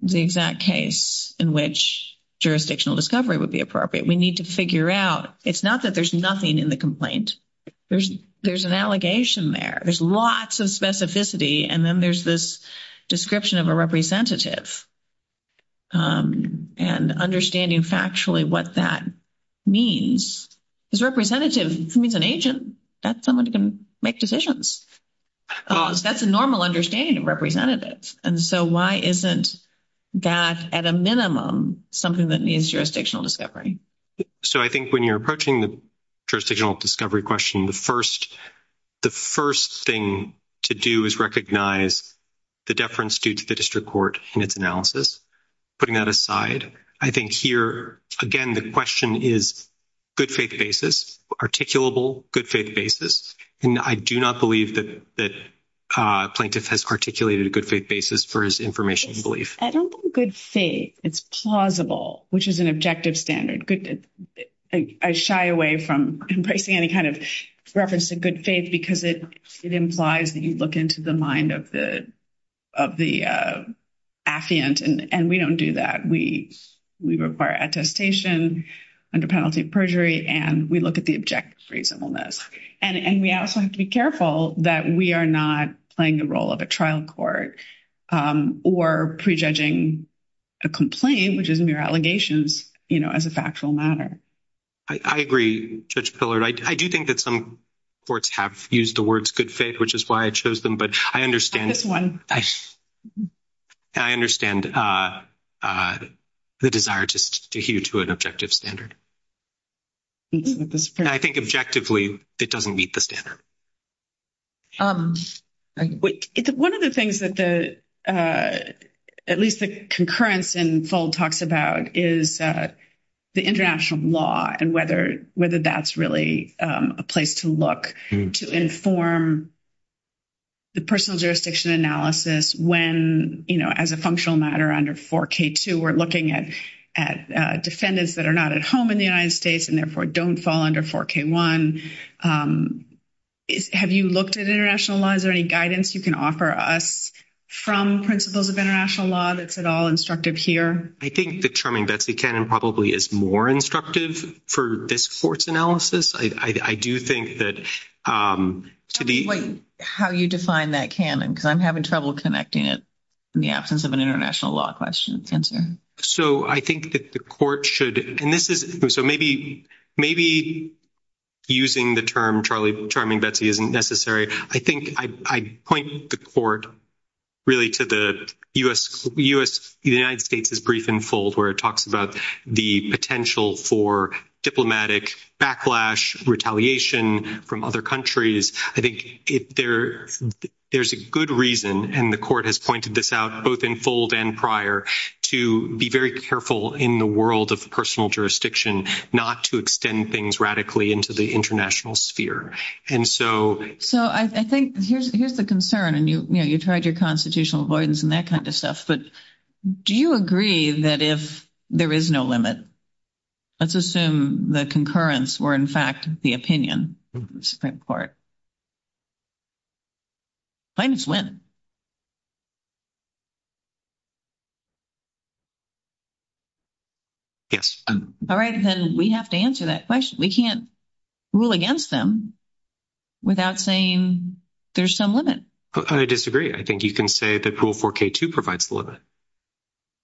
the exact case in which jurisdictional discovery would be appropriate? We need to figure out. It's not that there's nothing in the complaint. There's, there's an allegation there. There's lots of specificity and then there's this description of a representative. And understanding factually what that. Means is representative means an agent that someone can make decisions. That's a normal understanding of representatives and so why isn't. That at a minimum, something that needs jurisdictional discovery. So, I think when you're approaching the jurisdictional discovery question, the 1st. The 1st thing to do is recognize. The deference due to the district court and its analysis. Putting that aside, I think here again, the question is. Good faith basis articulable good faith basis and I do not believe that that. Plaintiff has articulated a good faith basis for his information and belief. I don't think good faith. It's plausible, which is an objective standard. Good. I shy away from embracing any kind of reference to good faith because it, it implies that you look into the mind of the. Affiant and we don't do that. We, we require attestation under penalty of perjury and we look at the objective reasonableness and we also have to be careful that we are not playing the role of a trial court or prejudging. A complaint, which is mere allegations as a factual matter. I agree. I do think that some. Courts have used the words good faith, which is why I chose them, but I understand this 1. I understand the desire just to you to an objective standard. I think objectively, it doesn't meet the standard. 1 of the things that the, at least the concurrence and fold talks about is. The international law and whether whether that's really a place to look to inform. The personal jurisdiction analysis when, you know, as a functional matter under 4 K, 2, we're looking at at defendants that are not at home in the United States and therefore don't fall under 4 K. 1. Have you looked at international law? Is there any guidance you can offer us? From principles of international law, that's at all instructive here. I think the charming Betsy cannon probably is more instructive for this court's analysis. I do think that. Um, to be how you define that cannon, because I'm having trouble connecting it. In the absence of an international law question sensor, so I think that the court should and this is so maybe maybe. Using the term, Charlie charming, Betsy isn't necessary. I think I point the court. Really to the US, the United States is brief and fold where it talks about the potential for diplomatic backlash, retaliation from other countries. I think there's a good reason and the court has pointed this out both in fold and prior to be very careful in the world of personal jurisdiction, not to extend things radically into the international sphere. And so, so I think here's here's the concern and you tried your constitutional avoidance and that kind of stuff. But do you agree that if there is no limit. Let's assume the concurrence were, in fact, the opinion. When. Yes. All right. Then we have to answer that question. We can't. Rule against them without saying there's some limit. I disagree. I think you can say that pool for K2 provides the limit.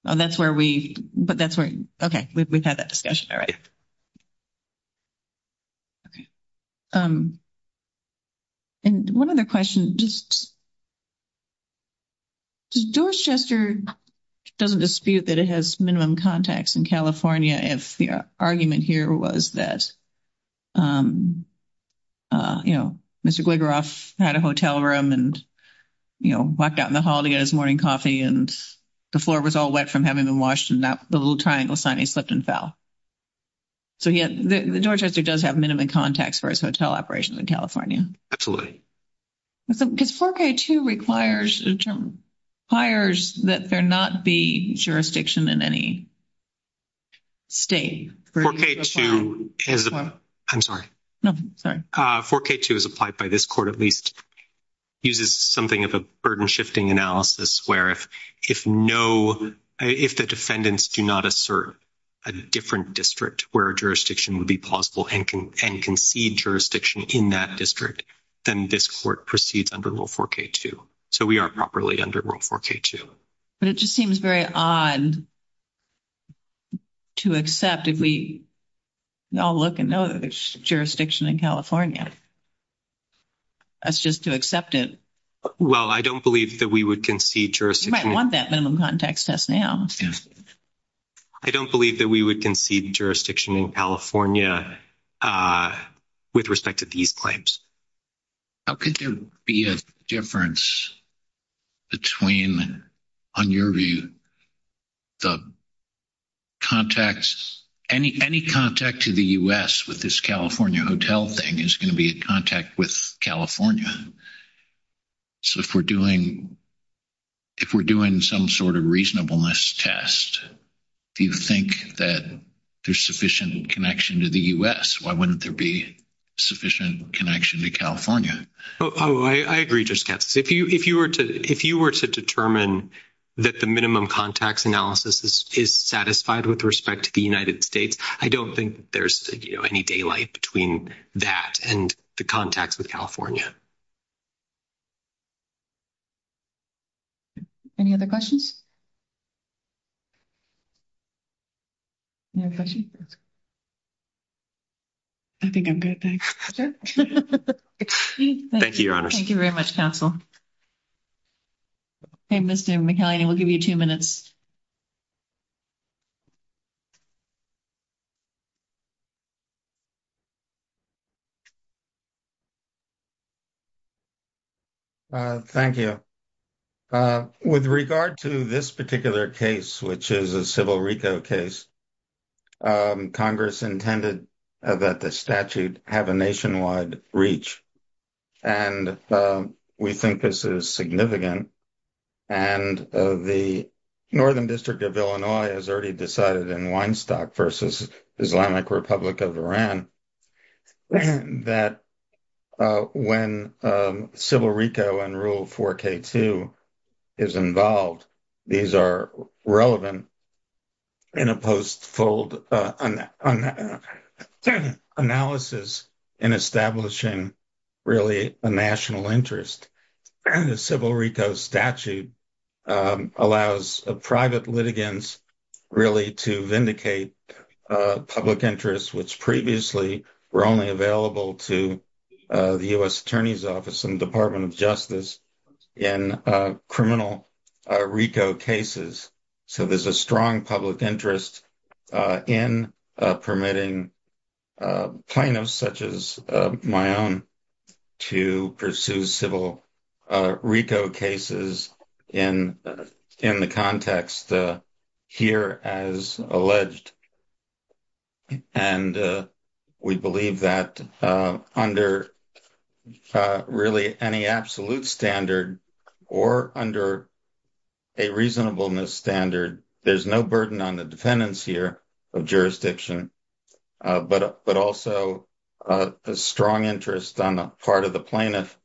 That's where we, but that's where. Okay. We've had that discussion. All right. And 1 other question just. Doors Chester doesn't dispute that it has minimum contacts in California. If the argument here was that. You know, Mr. had a hotel room and. You know, walked out in the hall to get his morning coffee and the floor was all wet from having been Washington that the little triangle sign he slipped and fell. So, yeah, the door Chester does have minimum contacts for his hotel operations in California. Absolutely. Because 4K2 requires a term. Pliers that they're not be jurisdiction in any. Stay for K2. I'm sorry. No, sorry. 4K2 is applied by this court at least. Uses something of a burden shifting analysis where if, if no, if the defendants do not assert. A different district where jurisdiction would be possible and can and concede jurisdiction in that district. Then this court proceeds under rule 4K2. So, we are properly under world 4K2, but it just seems very odd. To accept if we all look and know that there's jurisdiction in California. That's just to accept it. Well, I don't believe that we would concede jurisdiction. I want that minimum context test now. I don't believe that we would concede jurisdiction in California. With respect to these claims, how could there be a difference? Between on your view, the. Contacts any, any contact to the US with this California hotel thing is going to be in contact with California. So, if we're doing. If we're doing some sort of reasonableness test. Do you think that there's sufficient connection to the US? Why wouldn't there be? Sufficient connection to California? Oh, I agree. Just if you, if you were to, if you were to determine. Minimum contacts analysis is satisfied with respect to the United States. I don't think there's any daylight between that and the contacts with California. Any other questions. No question. I think I'm good. Thank you. Thank you. Your honor. Thank you very much counsel. Hey, Mr. McElhinney, we'll give you 2 minutes. Thank you with regard to this particular case, which is a civil Rico case. Congress intended that the statute have a nationwide reach. And we think this is significant. And the northern district of Illinois has already decided in 1 stock versus Islamic Republic of Iran. That when civil Rico and rule 4 K2. Is involved, these are relevant. In a post fold analysis. In establishing really a national interest. And the civil Rico statute allows a private litigants. Really to vindicate public interest, which previously were only available to. Uh, the US attorney's office and Department of justice. And criminal Rico cases. So, there's a strong public interest in permitting. Plano such as my own to pursue civil. Rico cases in in the context. Here as alleged and. We believe that under really any absolute standard. Or under a reasonableness standard, there's no burden on the defendants here. Of jurisdiction, but but also. A strong interest on the part of the plaintiff.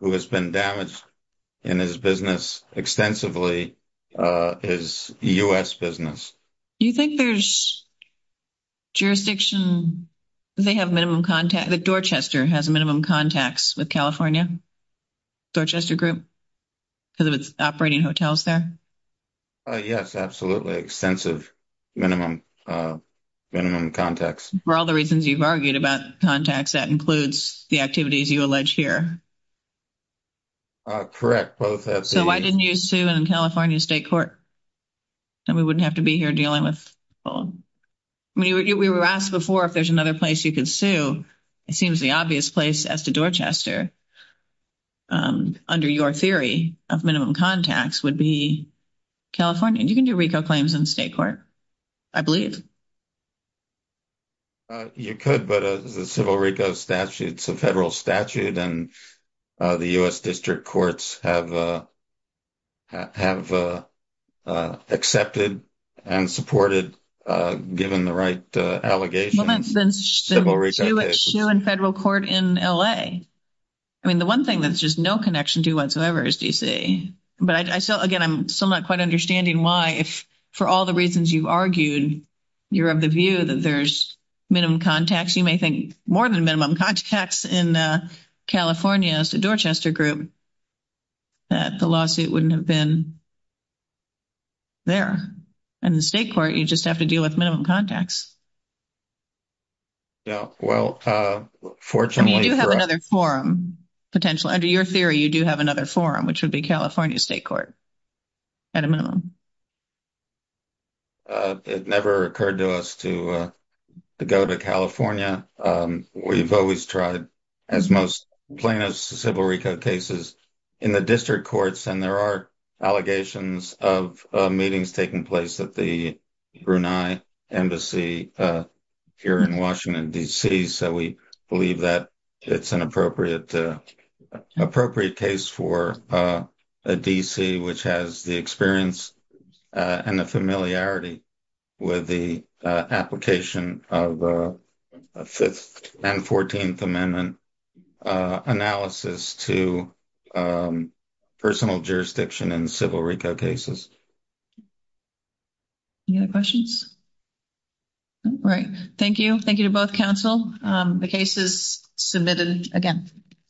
Who has been damaged in his business extensively. Uh, his US business, you think there's. Jurisdiction they have minimum contact the Dorchester has a minimum contacts with California. Dorchester group because of its operating hotels there. Yes, absolutely extensive minimum. Minimum contacts for all the reasons you've argued about contacts that includes the activities you allege here. Correct both so why didn't you sue in California state court? And we wouldn't have to be here dealing with. We were asked before if there's another place you can sue. It seems the obvious place as to Dorchester. Under your theory of minimum contacts would be. California and you can do Rico claims in state court. I believe you could, but as the civil Rico statute, it's a federal statute and. Uh, the US district courts have. Have accepted and supported given the right allegations. And federal court in LA. I mean, the 1 thing that's just no connection to whatsoever is DC, but I still again, I'm still not quite understanding why if for all the reasons you've argued. You're of the view that there's minimum contacts. You may think more than minimum contacts in California Dorchester group. That the lawsuit wouldn't have been. There and the state court, you just have to deal with minimum contacts. Yeah, well, fortunately, you have another forum. Potential under your theory, you do have another forum, which would be California state court. At a minimum, it never occurred to us to go to California. We've always tried. As most plain as civil Rico cases. In the district courts, and there are allegations of meetings taking place at the embassy. Here in Washington DC, so we believe that it's an appropriate. Appropriate case for a DC, which has the experience. And the familiarity with the application of. 5th and 14th amendment analysis to. Personal jurisdiction and civil Rico cases. Any other questions right? Thank you. Thank you to both counsel. The case is submitted again.